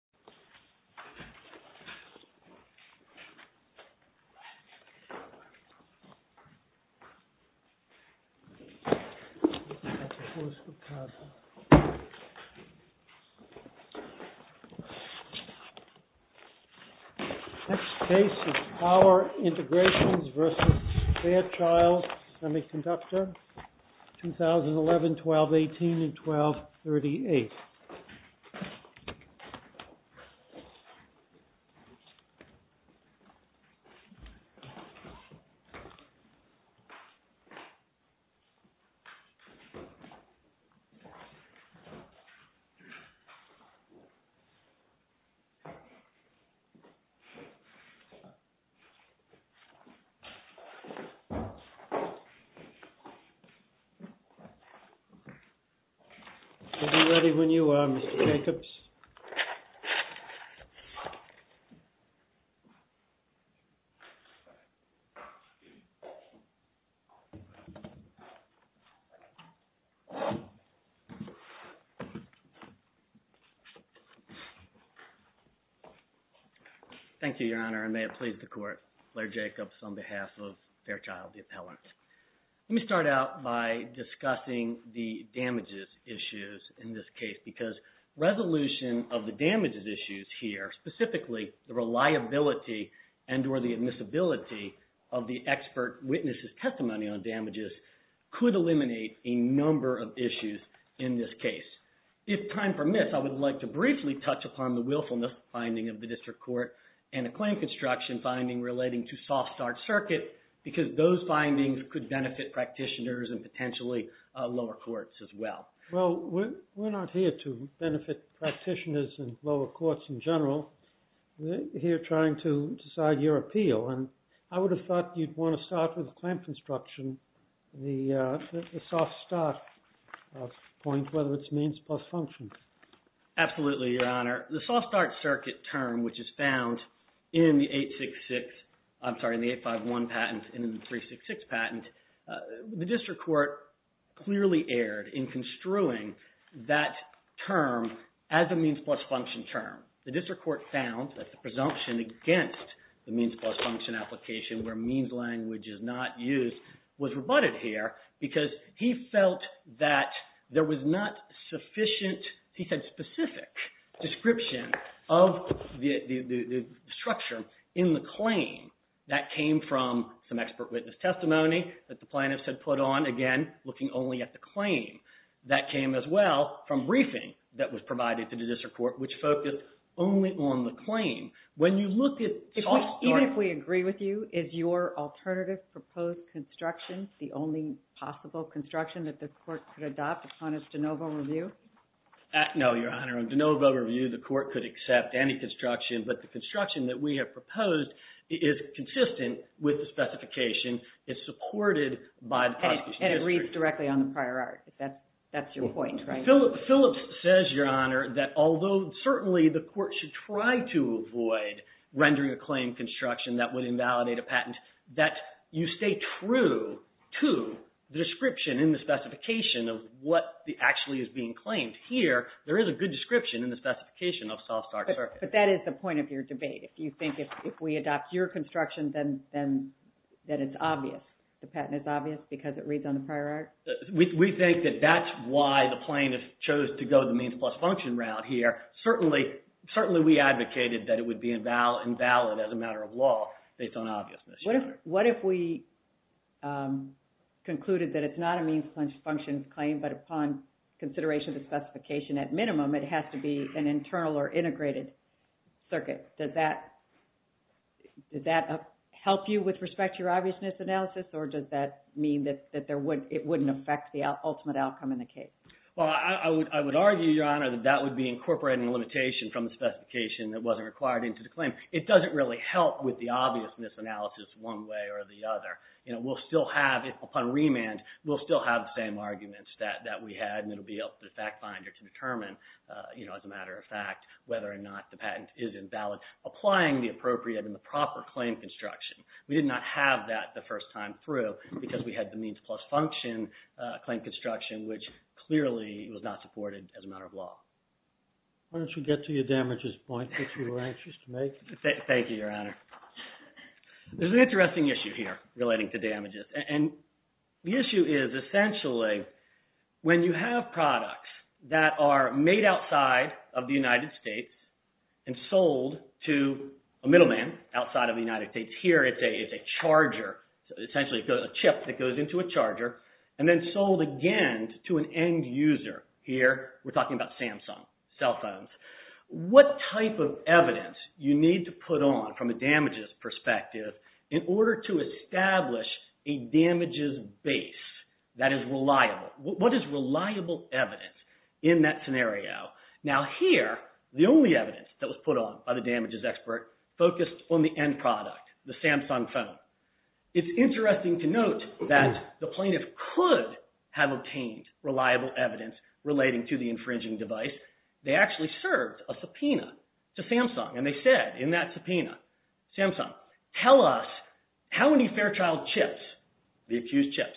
2011, 12-18, 12-38. Next case is POWER INTEGRATIONS v. FAIRCHILD SEMICONDUCTOR 2011, 12-18, and 12-38. Is he ready when you are, Mr. Jacobs? Thank you, Your Honor, and may it please the Court, Blair Jacobs on behalf of Fairchild, the appellant. Let me start out by discussing the damages issues in this case because resolution of the damages issues here, specifically the reliability and or the admissibility of the expert witness's testimony on damages, could eliminate a number of issues in this case. If time permits, I would like to briefly touch upon the willfulness finding of the District Court and a claim construction finding relating to soft-start circuit because those findings could benefit practitioners and potentially lower courts as well. Well, we're not here to benefit practitioners and lower courts in general. We're here trying to decide your appeal and I would have thought you'd want to start with the claim construction, the soft-start point, whether it's means plus function. Absolutely, Your Honor. The soft-start circuit term, which is found in the 866, I'm sorry, in the 851 patent and in the 366 patent, the District Court clearly erred in construing that term as a means plus function term. The District Court found that the presumption against the means plus function application where means language is not used was rebutted here because he felt that there was not sufficient, he said specific, description of the structure in the claim. That came from some expert witness testimony that the plaintiffs had put on, again, looking only at the claim. That came as well from briefing that was provided to the District Court, which focused only on the claim. When you look at soft-start... Even if we agree with you, is your alternative proposed construction the only possible construction that this court could adopt upon its de novo review? No, Your Honor. On de novo review, the court could accept any construction, but the construction that we have proposed is consistent with the specification, is supported by the prosecution history. And it reads directly on the prior art. That's your point, right? Phillips says, Your Honor, that although certainly the court should try to avoid rendering a claim construction that would invalidate a patent, that you stay true to the description in the specification of what actually is being claimed. Here, there is a good description in the specification of soft-start circuit. But that is the point of your debate. If you think if we adopt your construction, then it's obvious. The patent is obvious because it reads on the prior art? We think that that's why the plaintiff chose to go the means plus function route here. Certainly, we advocated that it would be invalid as a matter of law based on obviousness. What if we concluded that it's not a means plus function claim, but upon consideration of the specification, at minimum, it has to be an internal or integrated circuit? Does that help you with respect to your obviousness analysis, or does that mean that it wouldn't affect the ultimate outcome in the case? I would argue, Your Honor, that that would be incorporating a limitation from the specification that wasn't required into the claim. It doesn't really help with the obviousness analysis one way or the other. We'll still have, upon remand, we'll still have the same arguments that we had, and it'll be up to the fact finder to determine, as a matter of fact, whether or not the patent is invalid, applying the appropriate and the proper claim construction. We did not have that the first time through because we had the means plus function claim construction, which clearly was not supported as a matter of law. Why don't you get to your damages point, if you were anxious to make it? Thank you, Your Honor. There's an interesting issue here relating to damages. The issue is, essentially, when you have products that are made outside of the United States and sold to a middleman outside of the United States, here it's a charger, essentially a chip that goes into a charger, and then sold again to an end user. Here, we're talking about Samsung cell phones. What type of evidence you need to put on, from a damages perspective, in order to establish a damages base that is reliable? What is reliable evidence in that scenario? Now here, the only evidence that was put on by the damages expert focused on the end product, the Samsung phone. It's interesting to note that the plaintiff could have obtained reliable evidence relating to the infringing device. They actually served a subpoena to Samsung, and they said in that subpoena, Samsung, tell us how many Fairchild chips, the accused chips,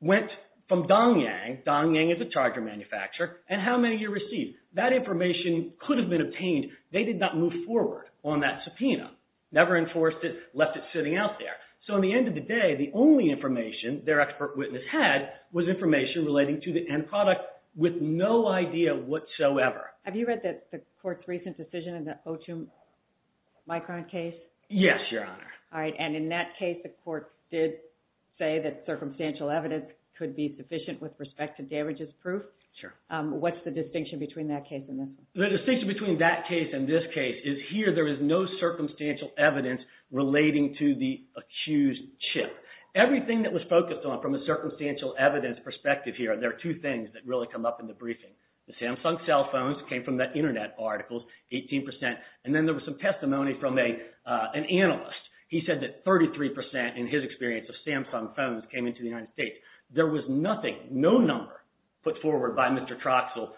went from Dongyang, Dongyang is a charger manufacturer, and how many you received. That information could have been obtained. They did not move forward on that subpoena, never enforced it, left it sitting out there. So at the end of the day, the only information their expert witness had was information relating to the end product with no idea whatsoever. Have you read the court's recent decision in the O2 Micron case? Yes, Your Honor. All right, and in that case, the court did say that circumstantial evidence could be sufficient with respect to damages proof. Sure. What's the distinction between that case and this one? The distinction between that case and this case is here there is no circumstantial evidence relating to the accused chip. Everything that was focused on from the circumstantial evidence perspective here, there are two things that really come up in the briefing. The Samsung cell phones came from that internet article, 18%, and then there was some testimony from an analyst. He said that 33% in his experience of Samsung phones came into the United States. There was nothing, no number put forward by Mr. Troxell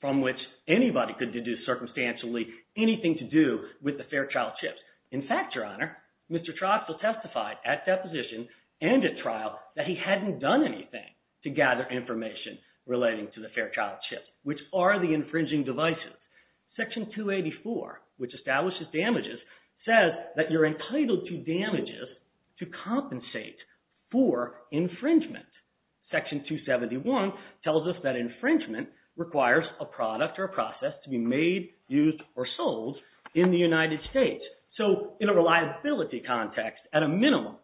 from which anybody could deduce circumstantially anything to do with the Fairchild chips. In fact, Your Honor, Mr. Troxell testified at deposition and at trial that he hadn't done anything to gather information relating to the Fairchild chips, which are the infringing devices. Section 284, which establishes damages, says that you're entitled to damages to compensate for infringement. Section 271 tells us that infringement requires a product or a process to be made, used, or sold in the United States. So in a reliability context, at a minimum,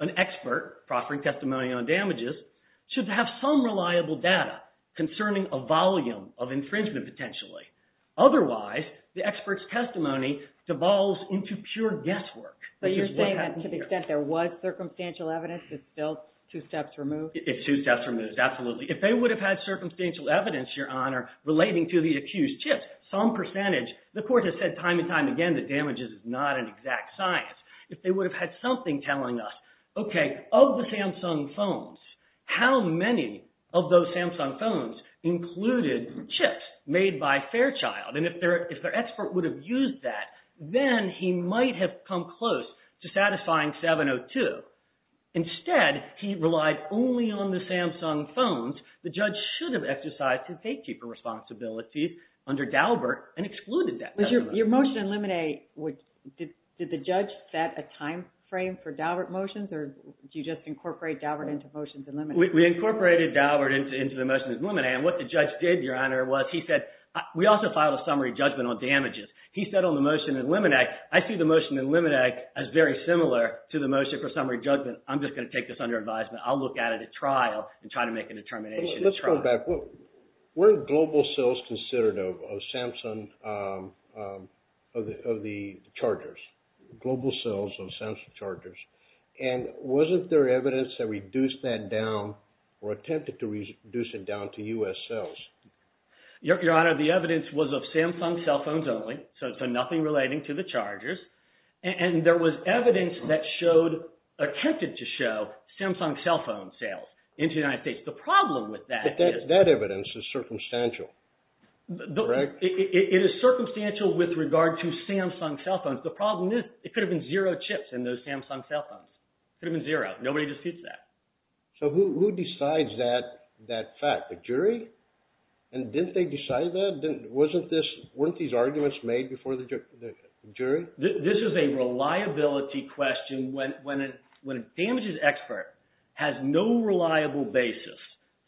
an expert proffering testimony on damages should have some reliable data concerning a volume of infringement potentially. Otherwise, the expert's testimony devolves into pure guesswork. But you're saying that to the extent there was circumstantial evidence, it's still two steps removed? It's two steps removed, absolutely. If they would have had circumstantial evidence, Your Honor, relating to the accused chips, some percentage, the court has said time and time again that damages is not an exact science. If they would have had something telling us, okay, of the Samsung phones, how many of those Samsung phones included chips made by Fairchild? And if their expert would have used that, then he might have come close to satisfying 702. Instead, he relied only on the Samsung phones. The judge should have decided to take deeper responsibilities under Daubert and excluded that testimony. Your motion in Lemonet, did the judge set a time frame for Daubert motions, or did you just incorporate Daubert into motions in Lemonet? We incorporated Daubert into the motions in Lemonet. And what the judge did, Your Honor, was he said, we also filed a summary judgment on damages. He said on the motion in Lemonet, I see the motion in Lemonet as very similar to the motion for summary judgment. I'm just going to take this under advisement. I'll look at it at trial and try to make a determination at trial. Let's go back. Weren't global sales considered of Samsung, of the chargers, global sales of Samsung chargers? And wasn't there evidence that reduced that down or attempted to reduce it down to U.S. sales? Your Honor, the evidence was of Samsung cell phones only, so nothing relating to the chargers. And there was evidence that showed, attempted to show, Samsung cell phone sales into the United States. The problem with that is... But that evidence is circumstantial, correct? It is circumstantial with regard to Samsung cell phones. The problem is, it could have been zero chips in those Samsung cell phones. It could have been zero. Nobody disputes that. So who decides that fact? The jury? And didn't they decide that? Wasn't this, weren't these arguments made before the jury? This is a reliability question. When a damages expert has no reliable basis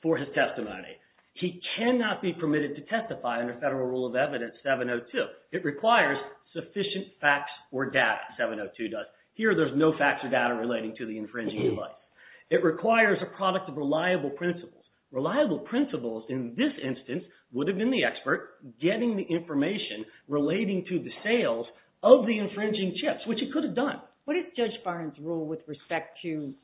for his testimony, he cannot be permitted to testify under Federal Rule of Evidence 702. It requires sufficient facts or data, 702 does. Here there's no facts or data relating to the infringing device. It requires a product of reliable principles. Reliable principles in this instance would have been the expert getting the information relating to the sales of the infringing chips, which it could have done. What is Judge Barnes' rule with respect to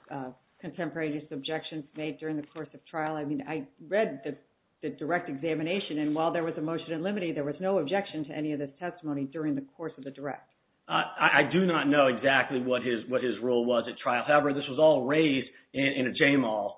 contemporary use objections made during the course of trial? I mean, I read the direct examination and while there was a motion in limine, there was no objection to any of this testimony during the course of the direct. I do not know exactly what his rule was at trial. However, this was all raised in a J-Mall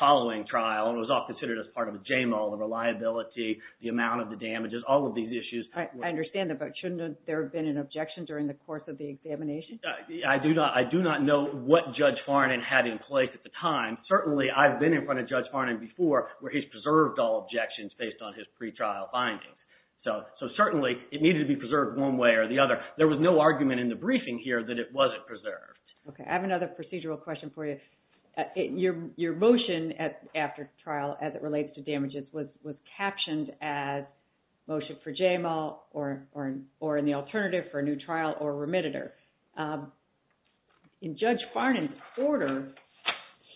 following trial and was all considered as part of a J-Mall, the reliability, the amount of the damages, all of these issues. I understand that, but shouldn't there have been an objection during the course of the examination? I do not know what Judge Farnan had in place at the time. Certainly, I've been in front of Judge Farnan before where he's preserved all objections based on his pretrial findings. So certainly, it needed to be preserved one way or the other. There was no argument in the briefing here that it wasn't preserved. Okay, I have another procedural question for you. Your motion after trial as it relates to damages was captioned as motion for J-Mall or in the alternative for a new trial or remitter. In Judge Farnan's order,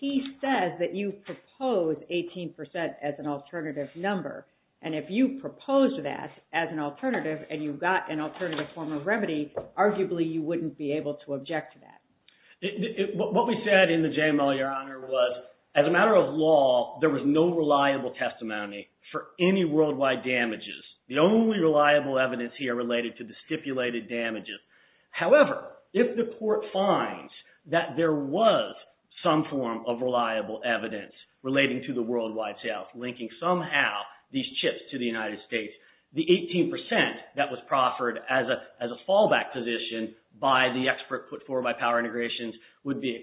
he says that you propose 18% as an alternative number and if you proposed that as an alternative and you got an alternative form of remedy, arguably, you wouldn't be able to object to that. What we said in the J-Mall, Your Honor, was as a matter of law, there was no reliable testimony for any worldwide damages. The only reliable evidence here related to the stipulated damages. However, if the court finds that there was some form of reliable evidence relating to the worldwide sales, linking somehow these chips to the United States, the 18% that was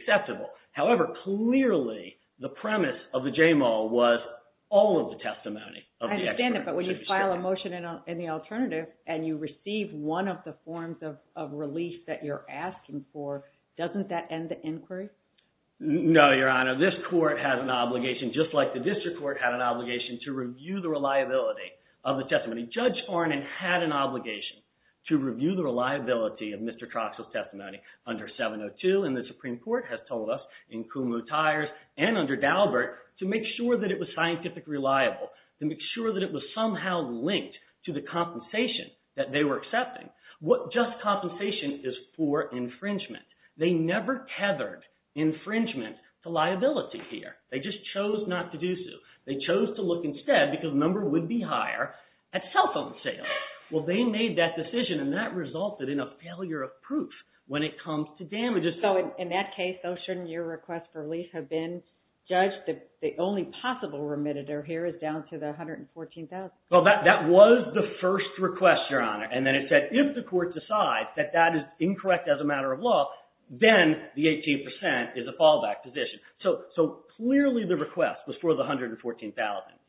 acceptable. However, clearly, the premise of the J-Mall was all of the testimony of the expert. I understand it, but when you file a motion in the alternative and you receive one of the forms of release that you're asking for, doesn't that end the inquiry? No, Your Honor. This court has an obligation just like the district court had an obligation to review the reliability of the testimony. Judge Farnan had an obligation to review the reliability of Mr. Troxell's testimony under 702 and the Supreme Court has told us in Kumho Tires and under Daubert to make sure that it was scientifically reliable. To make sure that it was somehow linked to the compensation that they were accepting. What just compensation is for infringement. They never tethered infringement to liability here. They just chose not to do so. They chose to look instead, because the number would be higher, at cell phone sales. Well, they made that decision and that resulted in a failure of proof when it comes to damages. So, in that case, though, shouldn't your request for release have been judged that the only possible remitter here is down to the $114,000? Well, that was the first request, Your Honor, and then it said, if the court decides that that is incorrect as a matter of law, then the 18% is a fallback position. So, clearly, the request was for the $114,000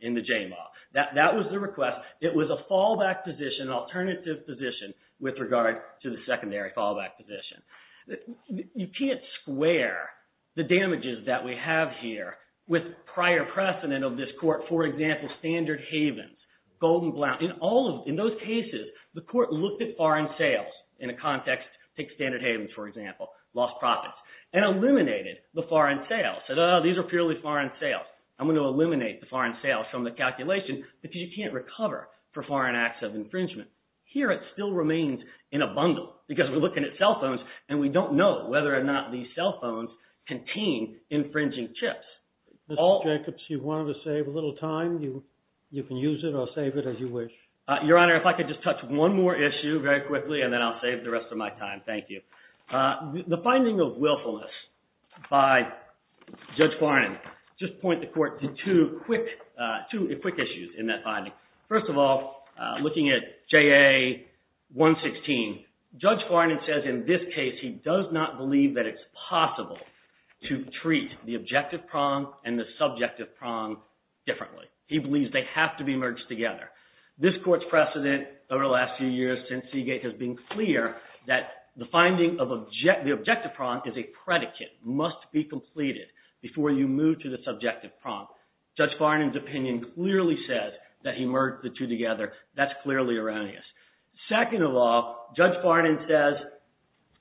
in the J-Mall. That was the request. It was a fallback position, an alternative position, with regard to the secondary fallback position. You can't square the damages that we have here with prior precedent of this court. For example, Standard Havens, Golden Blount. In those cases, the court looked at foreign sales in a context, take Standard Havens, for example, lost profits, and eliminated the foreign sales. Said, oh, these are purely foreign sales. I'm going to eliminate the calculation because you can't recover for foreign acts of infringement. Here, it still remains in a bundle because we're looking at cell phones and we don't know whether or not these cell phones contain infringing chips. Mr. Jacobs, you wanted to save a little time. You can use it. I'll save it as you wish. Your Honor, if I could just touch one more issue very quickly, and then I'll save the rest of my time. Thank you. The finding of two quick issues in that finding. First of all, looking at JA 116, Judge Farnan says in this case he does not believe that it's possible to treat the objective prong and the subjective prong differently. He believes they have to be merged together. This court's precedent over the last few years since Seagate has been clear that the finding of the objective prong is a predicate, must be completed before you move to the subjective prong. Judge Farnan's opinion clearly says that he merged the two together. That's clearly erroneous. Second of all, Judge Farnan says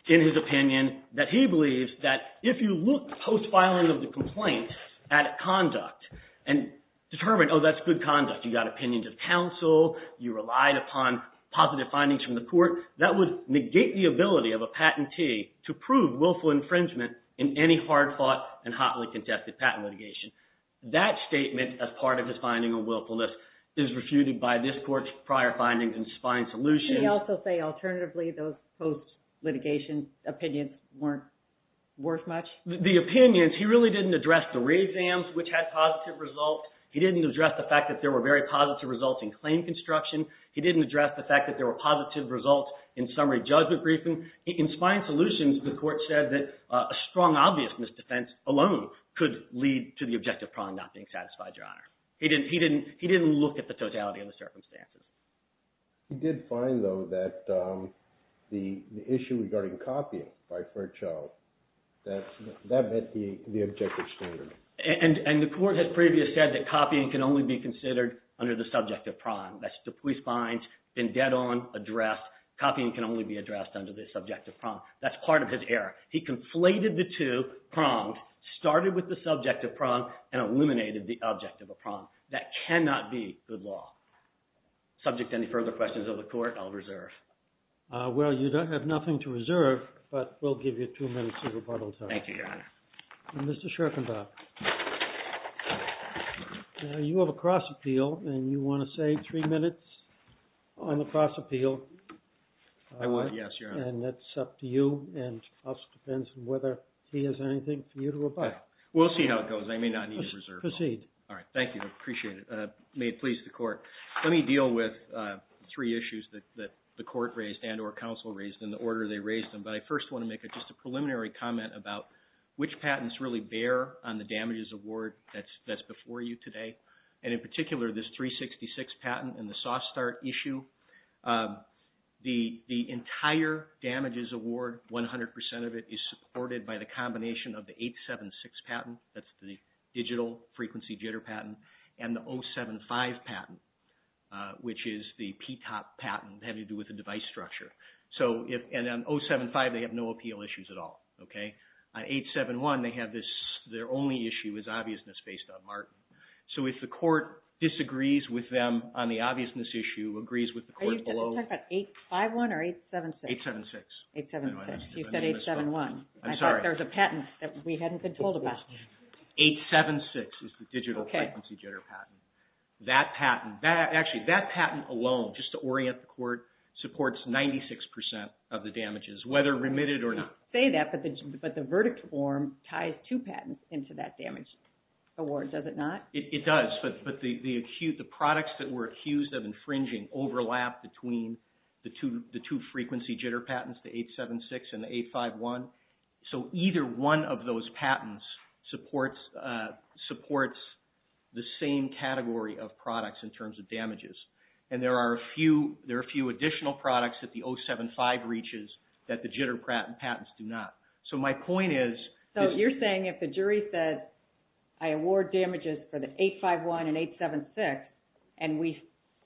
in his opinion that he believes that if you look post-filing of the complaint at conduct and determine, oh, that's good conduct. You got opinions of counsel. You relied upon positive findings from the court. That would negate the ability of a willful infringement in any hard-fought and hotly contested patent litigation. That statement as part of his finding of willfulness is refuted by this court's prior findings in Spine Solutions. Can you also say alternatively those post-litigation opinions weren't worth much? The opinions, he really didn't address the re-exams, which had positive results. He didn't address the fact that there were very positive results in claim construction. He didn't address the fact that there were positive results in summary judgment briefing. In Spine Solutions, the court said that a strong obvious misdefense alone could lead to the objective prong not being satisfied, Your Honor. He didn't look at the totality of the circumstances. He did find, though, that the issue regarding copying by Fairchild, that met the objective standard. And the court has previously said that copying can only be considered under the subjective prong. That's the police finds been dead on, addressed. Copying can only be addressed under the subjective prong. That's part of his error. He conflated the two pronged, started with the subjective prong, and eliminated the objective of prong. That cannot be good law. Subject to any further questions of the court, I'll reserve. Well, you don't have nothing to reserve, but we'll give you two minutes of rebuttal time. Thank you, Your Honor. Mr. Schorkendorff, you have a cross-appeal, and you want to save three minutes on the cross-appeal. I would, yes, Your Honor. And that's up to you, and also depends on whether he has anything for you to rebut. We'll see how it goes. I may not need to reserve. Proceed. All right. Thank you. I appreciate it. May it please the court. Let me deal with three issues that the court raised and or counsel raised in the order they raised them. But I first want to make just a preliminary comment about which patents really bear on the damages award that's before you today. And in particular, this 366 patent and the soft start issue. The entire damages award, 100% of it, is supported by the combination of the 876 patent, that's the digital frequency jitter patent, and the 075 patent, which is the PTOP patent having to do with the device structure. So, and on 075, they have no appeal issues at all. On 871, they have this, their only issue is obviousness based on mark. So if the court disagrees with them on the obviousness issue, agrees with the court below... Are you talking about 851 or 876? 876. 876. You said 871. I'm sorry. I thought there was a patent that we hadn't been told about. 876 is the digital frequency jitter patent. That patent, actually that patent alone, just to 96% of the damages, whether remitted or not. I didn't say that, but the verdict form ties two patents into that damage award, does it not? It does, but the products that were accused of infringing overlap between the two frequency jitter patents, the 876 and the 851. So either one of those patents supports the same category of products in terms of damages. And there are a few additional products that the 075 reaches that the jitter patents do not. So my point is... So you're saying if the jury says, I award damages for the 851 and 876, and we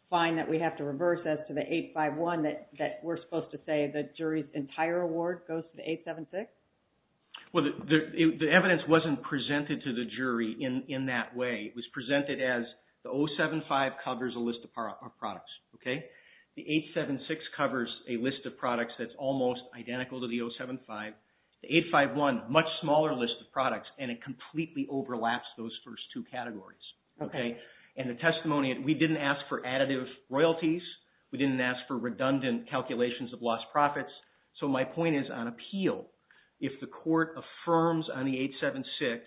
find that we have to reverse as to the 851, that we're supposed to say the jury's entire award goes to the 876? Well, the evidence wasn't presented to the jury in that way. It was presented as the 075 covers a list of products. The 876 covers a list of products that's almost identical to the 075. The 851, much smaller list of products, and it completely overlaps those first two categories. And the testimony, we didn't ask for additive royalties. We didn't ask for redundant calculations of lost profits. So my point is on appeal, if the court affirms on the 876,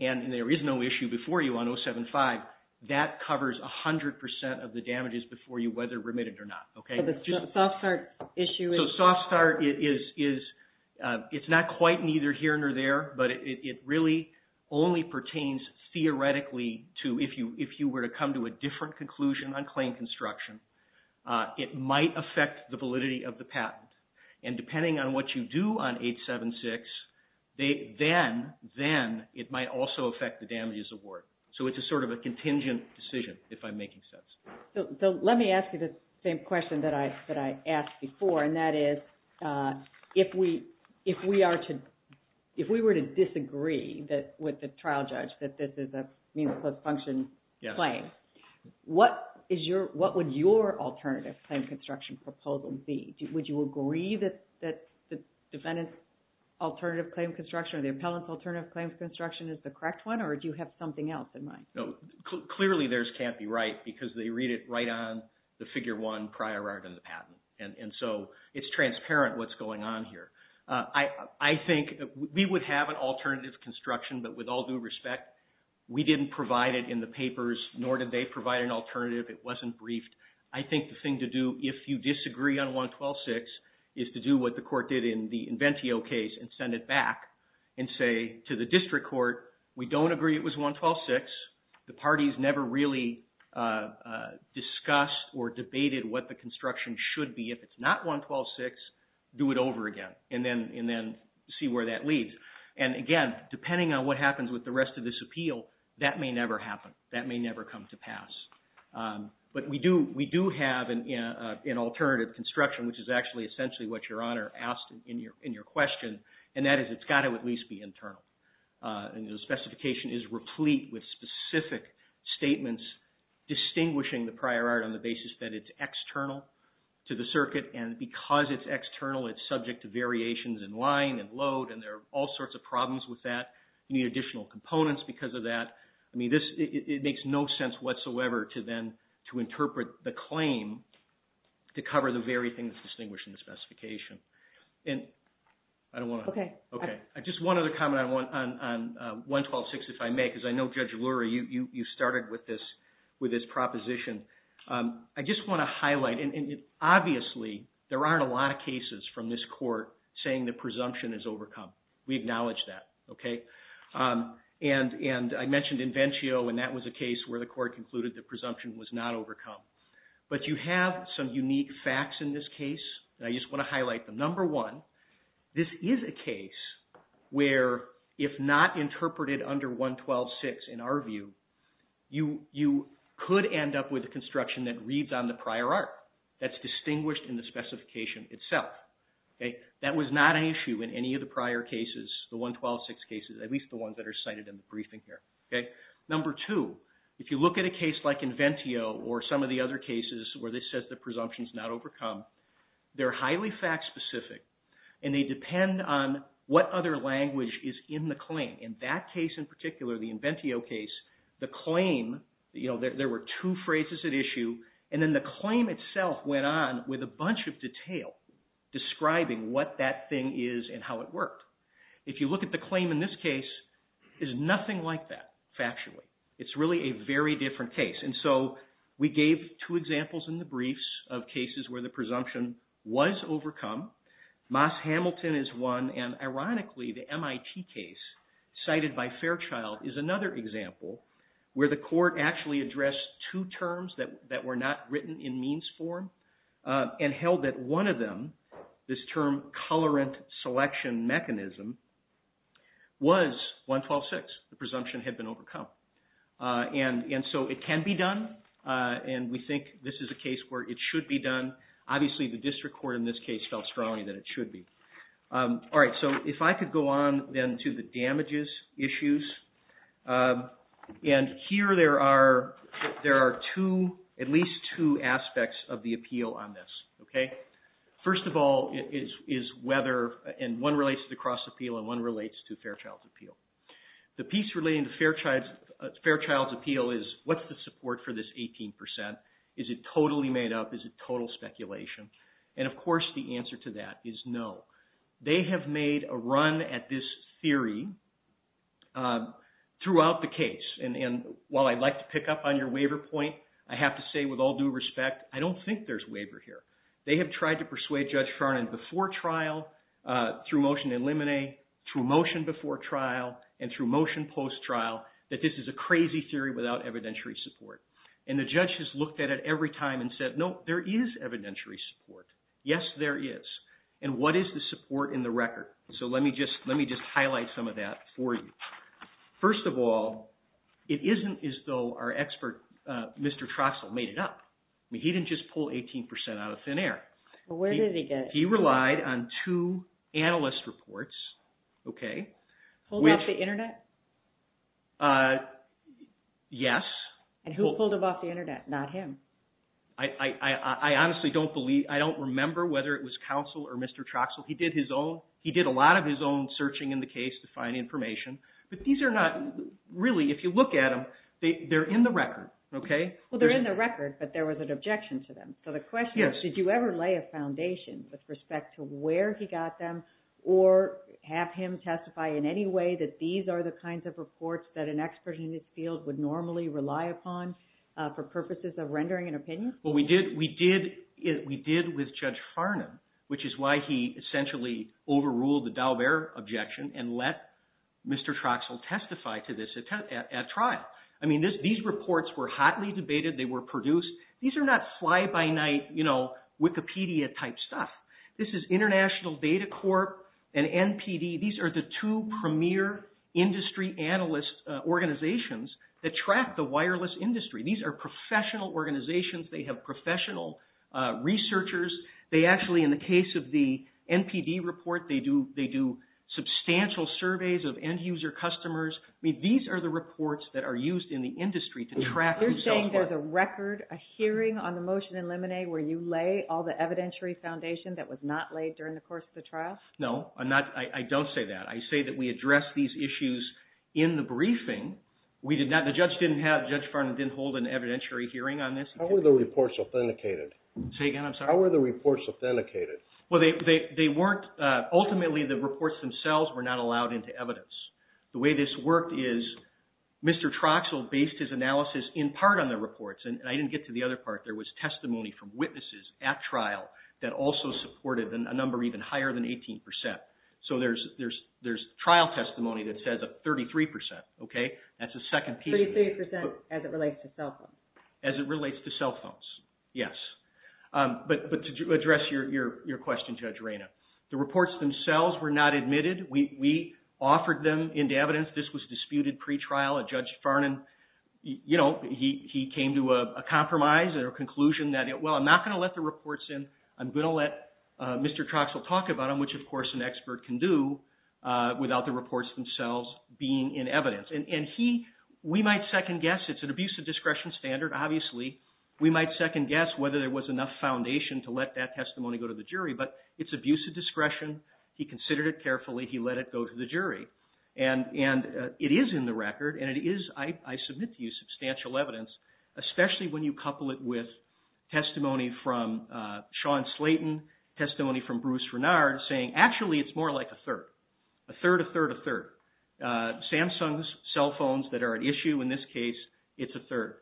and there is no issue before you on 075, that covers 100% of the damages before you, whether remitted or not, okay? So the soft start issue is... So soft start, it's not quite neither here nor there, but it really only pertains theoretically to if you were to come to a different conclusion on claim construction, it might affect the 876, then it might also affect the damages award. So it's a sort of a contingent decision, if I'm making sense. So let me ask you the same question that I asked before, and that is, if we were to disagree with the trial judge that this is a means of post-function claim, what would your alternative claim construction proposal be? Would you agree that the defendant's alternative claim construction or the appellant's alternative claim construction is the correct one, or do you have something else in mind? No. Clearly, theirs can't be right, because they read it right on the Figure 1 prior art and the patent. And so it's transparent what's going on here. I think we would have an alternative construction, but with all due respect, we didn't provide it in the papers, nor did they provide an alternative. It wasn't briefed. I think the thing to do, if you disagree on 112.6, is to do what the court did in the Inventio case and send it back and say to the district court, we don't agree it was 112.6, the parties never really discussed or debated what the construction should be. If it's not 112.6, do it over again, and then see where that leads. And again, depending on what happens with the rest of this appeal, that may never happen. That may never come to pass. But we do have an alternative construction, which is actually essentially what Your Honor asked in your question, and that is it's got to at least be internal. And the specification is replete with specific statements distinguishing the prior art on the basis that it's external to the circuit, and because it's external, it's subject to variations in line and load, and there are all sorts of problems with that. You need additional components because of that. I mean, it makes no sense whatsoever to then to interpret the claim to cover the very thing that's distinguished in the specification. Just one other comment on 112.6, if I may, because I know Judge Lurie, you started with this proposition. I just want to highlight, and obviously, there aren't a lot of cases from this Court saying the presumption is overcome. We acknowledge that. And I mentioned Invencio, and that was a case where the Court concluded the presumption was not overcome. But you have some unique facts in this case, and I just want to highlight them. Number one, this is a case where if not interpreted under 112.6 in our view, you could end up with a construction that reads on the prior art that's distinguished in the specification itself. That was not an issue in any of the prior cases, the 112.6 cases, at least the ones that are cited in the briefing here. Number two, if you look at a case like Invencio or some of the other cases where this says the presumption is not overcome, they're highly fact specific, and they depend on what other language is in the claim. In that case in particular, the Invencio case, the claim, there were two phrases at issue, and then the claim itself went on with a bunch of detail describing what that thing is and how it worked. If you look at the claim in this case, there's nothing like that factually. It's really a very different case. And so we gave two examples in the briefs of cases where the presumption was overcome. Moss Hamilton is one, and ironically the MIT case cited by Fairchild is another example where the Court actually addressed two terms that were not written in means form and held that one of them, this term colorant selection mechanism, was 112.6, the presumption had been overcome. And so it can be done, and we think this is a case where it should be done. Obviously the district court in this case felt strongly that it should be. All right, so if I could go on then to the damages issues. And here there are at least two aspects of the appeal on this. First of all is whether, and one relates to the cross appeal and one relates to Fairchild's appeal. The piece relating to Fairchild's appeal is what's the support for this 18 percent? Is it totally made up? Is it total speculation? And of course the answer to that is no. They have made a run at this theory throughout the case. And while I'd like to pick up on your waiver point, I have to say with all due respect, I don't think there's waiver here. They have tried to persuade Judge Farnan before trial, through motion in limine, through motion before trial, and through motion post trial, that this is a crazy theory without evidentiary support. And the judge has looked at it every time and said, no, there is evidentiary support. Yes, there is. And what is the support in the record? So let me just highlight some of that for you. First of all, it isn't as though our expert, Mr. Trostle, made it up. I mean, he didn't just pull 18 percent out of thin air. Where did he get 18 percent? He relied on two analyst reports, okay. Pulled off the internet? Yes. And who pulled him off the internet? Not him? I honestly don't believe, I don't remember whether it was counsel or Mr. Trostle. He did his own, he did a lot of his own searching in the case to find information. But these are not, really, if you look at them, they're in the record, okay. Well, they're in the record, but there was an objection to them. So the question is, did you ever lay a foundation with respect to where he got them, or have him testify in any way that these are the kinds of reports that an expert in this field would normally rely upon for purposes of rendering an opinion? Well, we did with Judge Farnham, which is why he essentially overruled the Daubert objection and let Mr. Trostle testify to this at trial. I mean, these reports were hotly debated, they were produced. These are not fly-by-night, you know, Wikipedia-type stuff. This is International Data Corp. and NPD. These are the two premier industry analyst organizations that track the wireless industry. These are professional organizations, they have professional researchers. They actually, in the case of the NPD report, they do substantial surveys of end-user customers. I mean, these are the reports that are used in the industry to track themselves. You're saying there's a record, a hearing on the motion in Lemonade where you lay all the evidentiary foundation that was not laid during the course of the trial? No, I'm not, I don't say that. I say that we address these issues in the briefing. We did not, the judge didn't have, Judge Farnham didn't hold an evidentiary hearing on this. How were the reports authenticated? Say again, I'm sorry. How were the reports authenticated? Well, they weren't, ultimately the reports themselves were not allowed into evidence. The way this worked is Mr. Trostle based his analysis in part on the reports, and I didn't get to the other part. There was testimony from witnesses at trial that also supported a number even higher than 18%. So there's trial testimony that says 33%, okay? That's a second piece. 33% as it relates to cell phones? As it relates to cell phones, yes. But to address your question, Judge Reyna, the reports themselves were not admitted. We offered them into evidence. This was disputed pretrial. Judge Farnham, you know, he came to a compromise and a conclusion that, well, I'm not going to let the reports in. I'm going to let Mr. Trostle talk about them, which of course an expert can do without the reports themselves being in evidence. And he, we might second guess, it's an abuse of discretion standard, obviously. We might second guess whether there was enough foundation to let that testimony go to the jury, but it's abuse of discretion. He considered it carefully. He let it go to the jury. And it is in the record, and it is, I submit to you, substantial evidence, especially when you couple it with testimony from Sean Slayton, testimony from Bruce Renard, saying actually it's more like a third. A third, a third, a third. Samsung's cell phones that are at issue in this case, it's a third.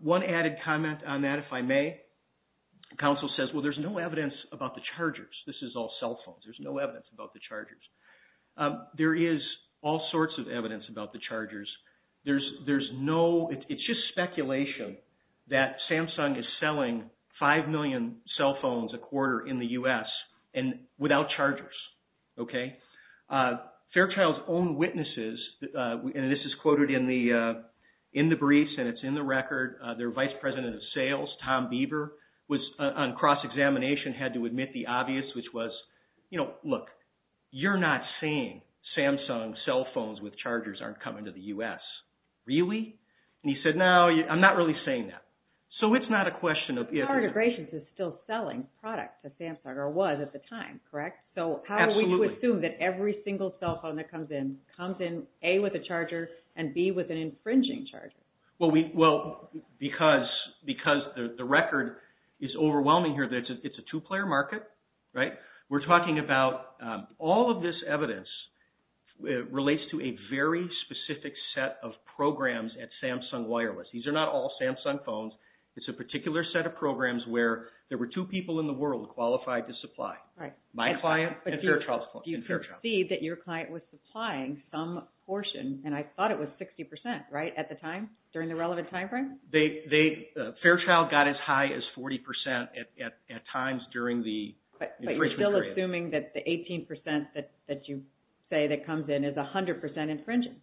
One added comment on that, if I may, counsel says, well, there's no evidence about the chargers. There is all sorts of evidence about the chargers. There's no, it's just speculation that Samsung is selling 5 million cell phones a quarter in the U.S. without chargers. Fairchild's own witnesses, and this is quoted in the briefs and it's in the record, their vice president of sales, Tom Bieber, was on cross-examination, had to admit the obvious, which was, you know, look, you're not saying Samsung cell phones with chargers aren't coming to the U.S. Really? And he said, no, I'm not really saying that. So it's not a question of... Power Integrations is still selling products to Samsung, or was at the time, correct? Absolutely. So how do we assume that every single cell phone that comes in, comes in, A, with a charger, and B, with an infringing charger? Well, because the record is overwhelming here, it's a two-player market, right? We're talking about all of this evidence relates to a very specific set of programs at Samsung Wireless. These are not all Samsung phones. It's a particular set of programs where there were two people in the world qualified to supply. My client and Fairchild's client. Do you concede that your client was supplying some portion, and I thought it was 60%, right, at the time, during the relevant time frame? Fairchild got as high as 40% at times during the infringement period. But you're still assuming that the 18% that you say that comes in is 100% infringing?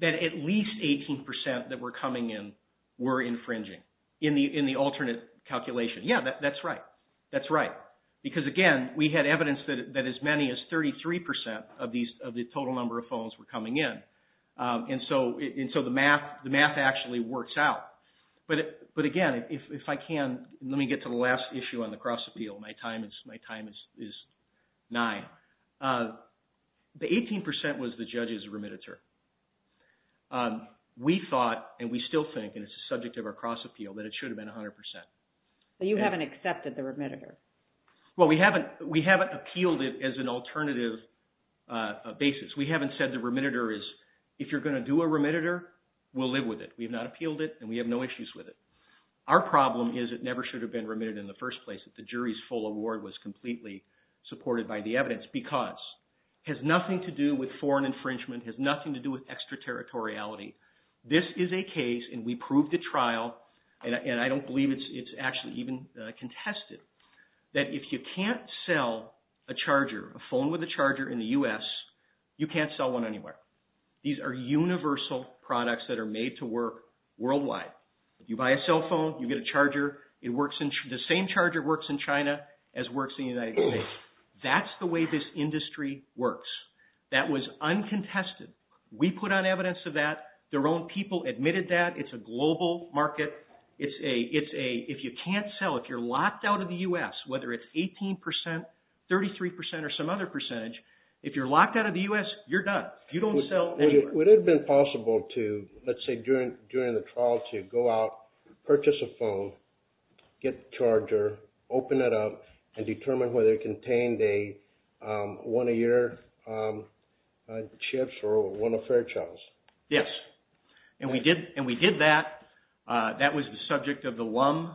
That at least 18% that were coming in were infringing, in the alternate calculation. Yeah, that's right. That's right. Because again, we had evidence that as many as 33% of the total number of phones were coming in. And so the math actually works out. But again, if I can, let me get to the last issue on the cross-appeal. My time is nine. The 18% was the judge's remitter. We thought, and we still think, and it's the subject of our cross-appeal, that it should have been 100%. But you haven't accepted the remitter? Well, we haven't appealed it as an alternative basis. We haven't said the remitter is, if you're going to do a remitter, we'll live with it. We've not appealed it, and we have no issues with it. Our problem is it never should have been remitted in the first place, that the jury's full award was completely supported by the evidence, because it has nothing to do with foreign infringement. It has nothing to do with extraterritoriality. This is a case, and we that if you can't sell a charger, a phone with a charger in the U.S., you can't sell one anywhere. These are universal products that are made to work worldwide. If you buy a cell phone, you get a charger. The same charger works in China as works in the United States. That's the way this industry works. That was uncontested. We put on evidence of that. Their own people admitted that. It's a global market. If you can't sell, if you're locked out of the U.S., whether it's 18%, 33%, or some other percentage, if you're locked out of the U.S., you're done. You don't sell anywhere. Would it have been possible to, let's say during the trial, to go out, purchase a phone, get the charger, open it up, and determine whether it contained a one-a-year or one-off charge? Yes. And we did that. That was the subject of the Lum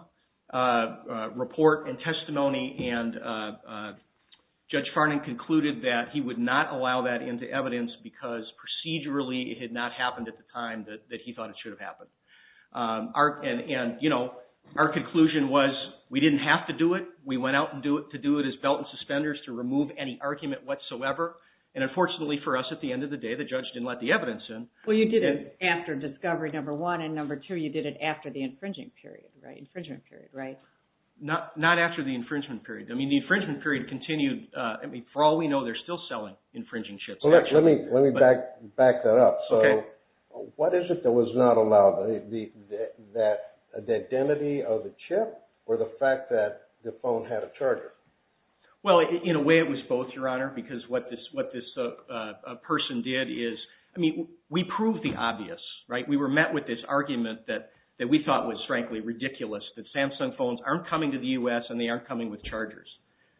report and testimony, and Judge Farnan concluded that he would not allow that into evidence because procedurally it had not happened at the time that he thought it should have happened. Our conclusion was we didn't have to do it. We went out to do it as belt and suspenders to remove any argument whatsoever, and unfortunately for us, at the end of the day, the judge didn't let the evidence in. Well, you did it after discovery, number one, and number two, you did it after the infringement period, right? Not after the infringement period. The infringement period continued. For all we know, they're still selling infringing chips. Let me back that up. What is it that was not allowed? The identity of the chip or the fact that the phone had a charger? Well, in a way it was both, Your Honor, because what this person did is, I mean, we proved the obvious, right? We were met with this argument that we thought was, frankly, ridiculous, that Samsung phones aren't coming to the U.S. and they aren't coming with chargers.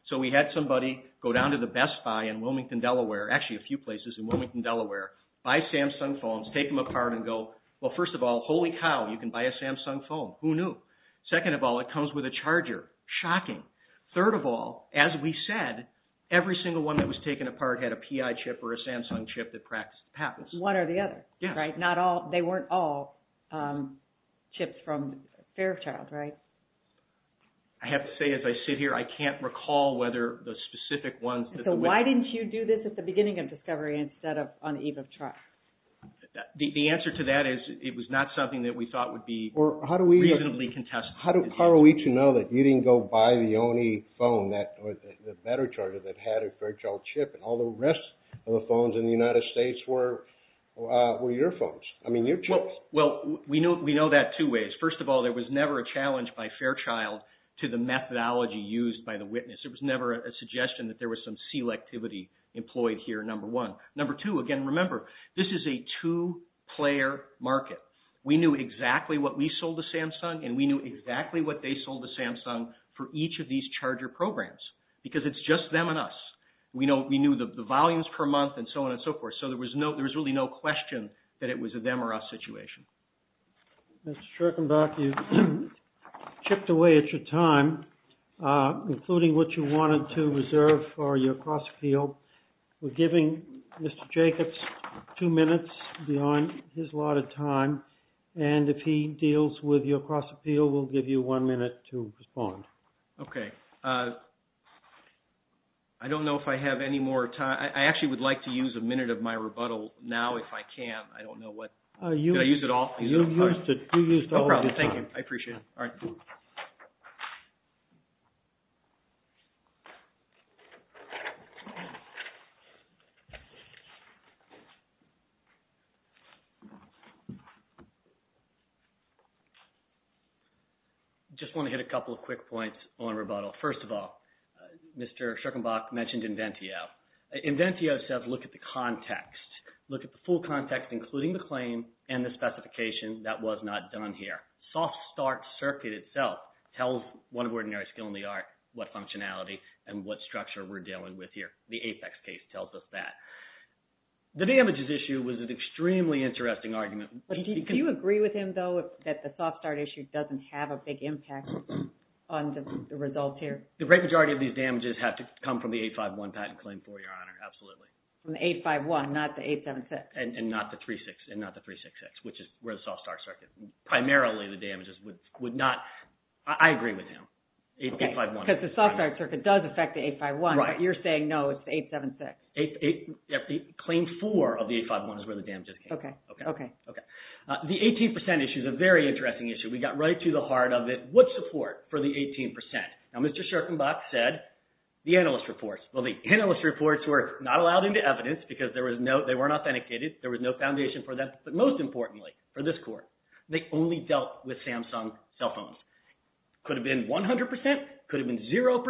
So we had somebody go down to the Best Buy in Wilmington, Delaware, actually a few places in Wilmington, Delaware, buy Samsung phones, take them apart and go, well, first of all, holy cow, you can buy a Samsung phone. Who knew? Second of all, it comes with a charger. Shocking. Third of all, as we said, every single one that was taken apart had a PI chip or a Samsung chip that practiced patents. One or the other, right? Not all, they weren't all chips from Fairchild, right? I have to say, as I sit here, I can't recall whether the specific ones. So why didn't you do this at the beginning of discovery instead of on the eve of trial? The answer to that is, it was not something that we thought would be reasonably contested. How are we to know that you didn't go buy the only phone, the better charger that had a Fairchild chip and all the rest of the phones in the United States were your phones? I mean, your chips. Well, we know that two ways. First of all, there was never a challenge by Fairchild to the methodology used by the witness. It was never a suggestion that there was some selectivity employed here, number one. Number two, again, remember, this is a two-player market. We knew exactly what we sold to Samsung and we knew exactly what they sold to Samsung for each of these charger programs because it's just them and us. We knew the volumes per month and so on and so forth. So there was really no question that it was a them or us situation. Mr. Shurkenbach, you chipped away at your time, including what you wanted to reserve for your time. And if he deals with your cross-appeal, we'll give you one minute to respond. Okay. I don't know if I have any more time. I actually would like to use a minute of my rebuttal now if I can. I don't know what. Did I use it all? You used it. You used all of your time. No problem. Thank you. I appreciate it. All right. I just want to hit a couple of quick points on rebuttal. First of all, Mr. Shurkenbach mentioned Inventio. Inventio says look at the context, look at the full context, including the claim and the specification that was not done here. Soft start circuit itself tells one of Ordinary Skill in the Art what functionality and what structure we're dealing with here. The APEX case tells us that. The damages issue was an Do you agree with him though that the soft start issue doesn't have a big impact on the results here? The great majority of these damages have to come from the 851 patent claim for your honor. Absolutely. From the 851, not the 876. And not the 366, which is where the soft start circuit, primarily the damages would not, I agree with him. Because the soft start circuit does affect the 851, but you're saying no, it's the 876. Claim four of the 851 is where the damages came. Okay. The 18% issue is a very interesting issue. We got right to the heart of it. What support for the 18%? Now, Mr. Shurkenbach said the analyst reports. Well, the analyst reports were not allowed into evidence because they weren't authenticated. There was no foundation for them. But most importantly for this court, they only dealt with Samsung cell phones. Could have been 100%, could have been 0%.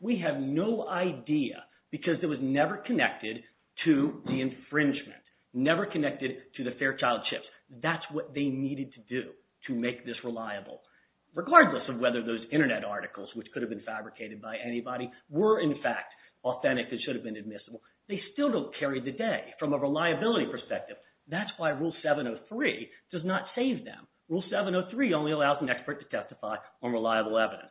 We have no idea because it was never connected to the infringement, never connected to the Fairchild chips. That's what they needed to do to make this reliable. Regardless of whether those internet articles, which could have been fabricated by anybody, were in fact authentic, it should have been admissible. They still don't carry the day from a reliability perspective. That's why rule 703 does not save them. Rule 703 only allows an expert to testify on reliable evidence.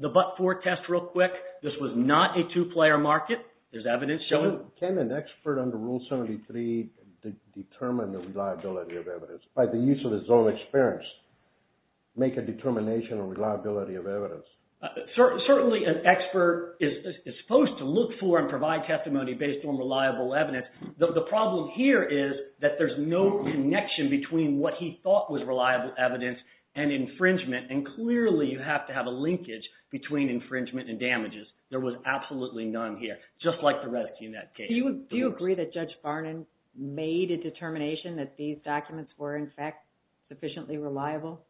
The but-for test real quick, this was not a two-player market. There's evidence showing- Can an expert under rule 703 determine the reliability of evidence by the use of his own experience, make a determination on reliability of evidence? Certainly an expert is supposed to look for and provide testimony based on reliable evidence. The problem here is that there's no connection between what he thought was reliable evidence and infringement. And clearly you have to have a linkage between infringement and damages. There was absolutely none here, just like the rest in that case. Do you agree that Judge Farnan made a determination that these documents were in fact sufficiently reliable?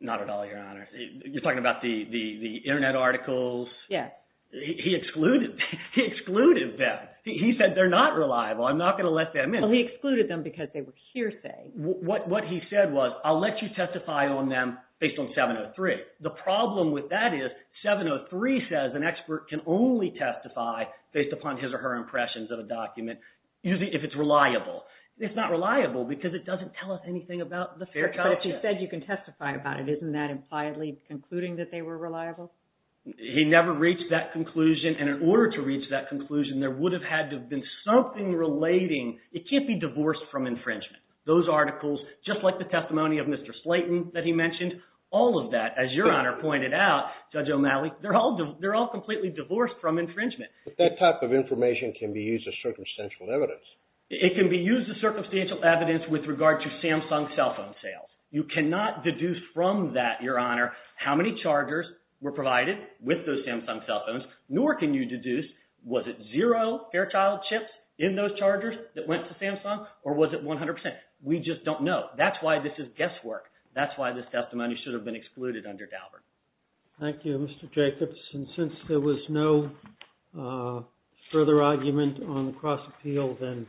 Not at all, Your Honor. You're talking about the internet articles? Yes. He excluded them. He said they're not reliable. I'm not going to let them in. He excluded them because they were hearsay. What he said was, I'll let you testify on them based on 703. The problem with that is 703 says an expert can only testify based upon his or her impressions of a document, usually if it's reliable. It's not reliable because it doesn't tell us anything about the facts. But if he said you can testify about it, isn't that impliedly concluding that they were reliable? He never reached that conclusion. And in order to reach that conclusion, there would have had to have been something relating. It can't be divorced from infringement. Those articles, just like the testimony of Mr. Slayton that he mentioned, all of that, as Your Honor pointed out, Judge O'Malley, they're all completely divorced from infringement. But that type of information can be used as circumstantial evidence. It can be used as circumstantial evidence with regard to Samsung cell phone sales. You cannot deduce from that, Your Honor, how many chargers were provided with those Samsung cell phones, nor can you deduce was it zero Fairchild chips in those chargers that went to Samsung, or was it 100 percent? We just don't know. That's why this is guesswork. That's why this testimony should have been excluded under Daubert. Thank you, Mr. Jacobs. And since there was no further argument on the cross-appeal, then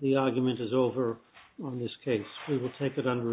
the argument is over on this case. We will take it under advisement.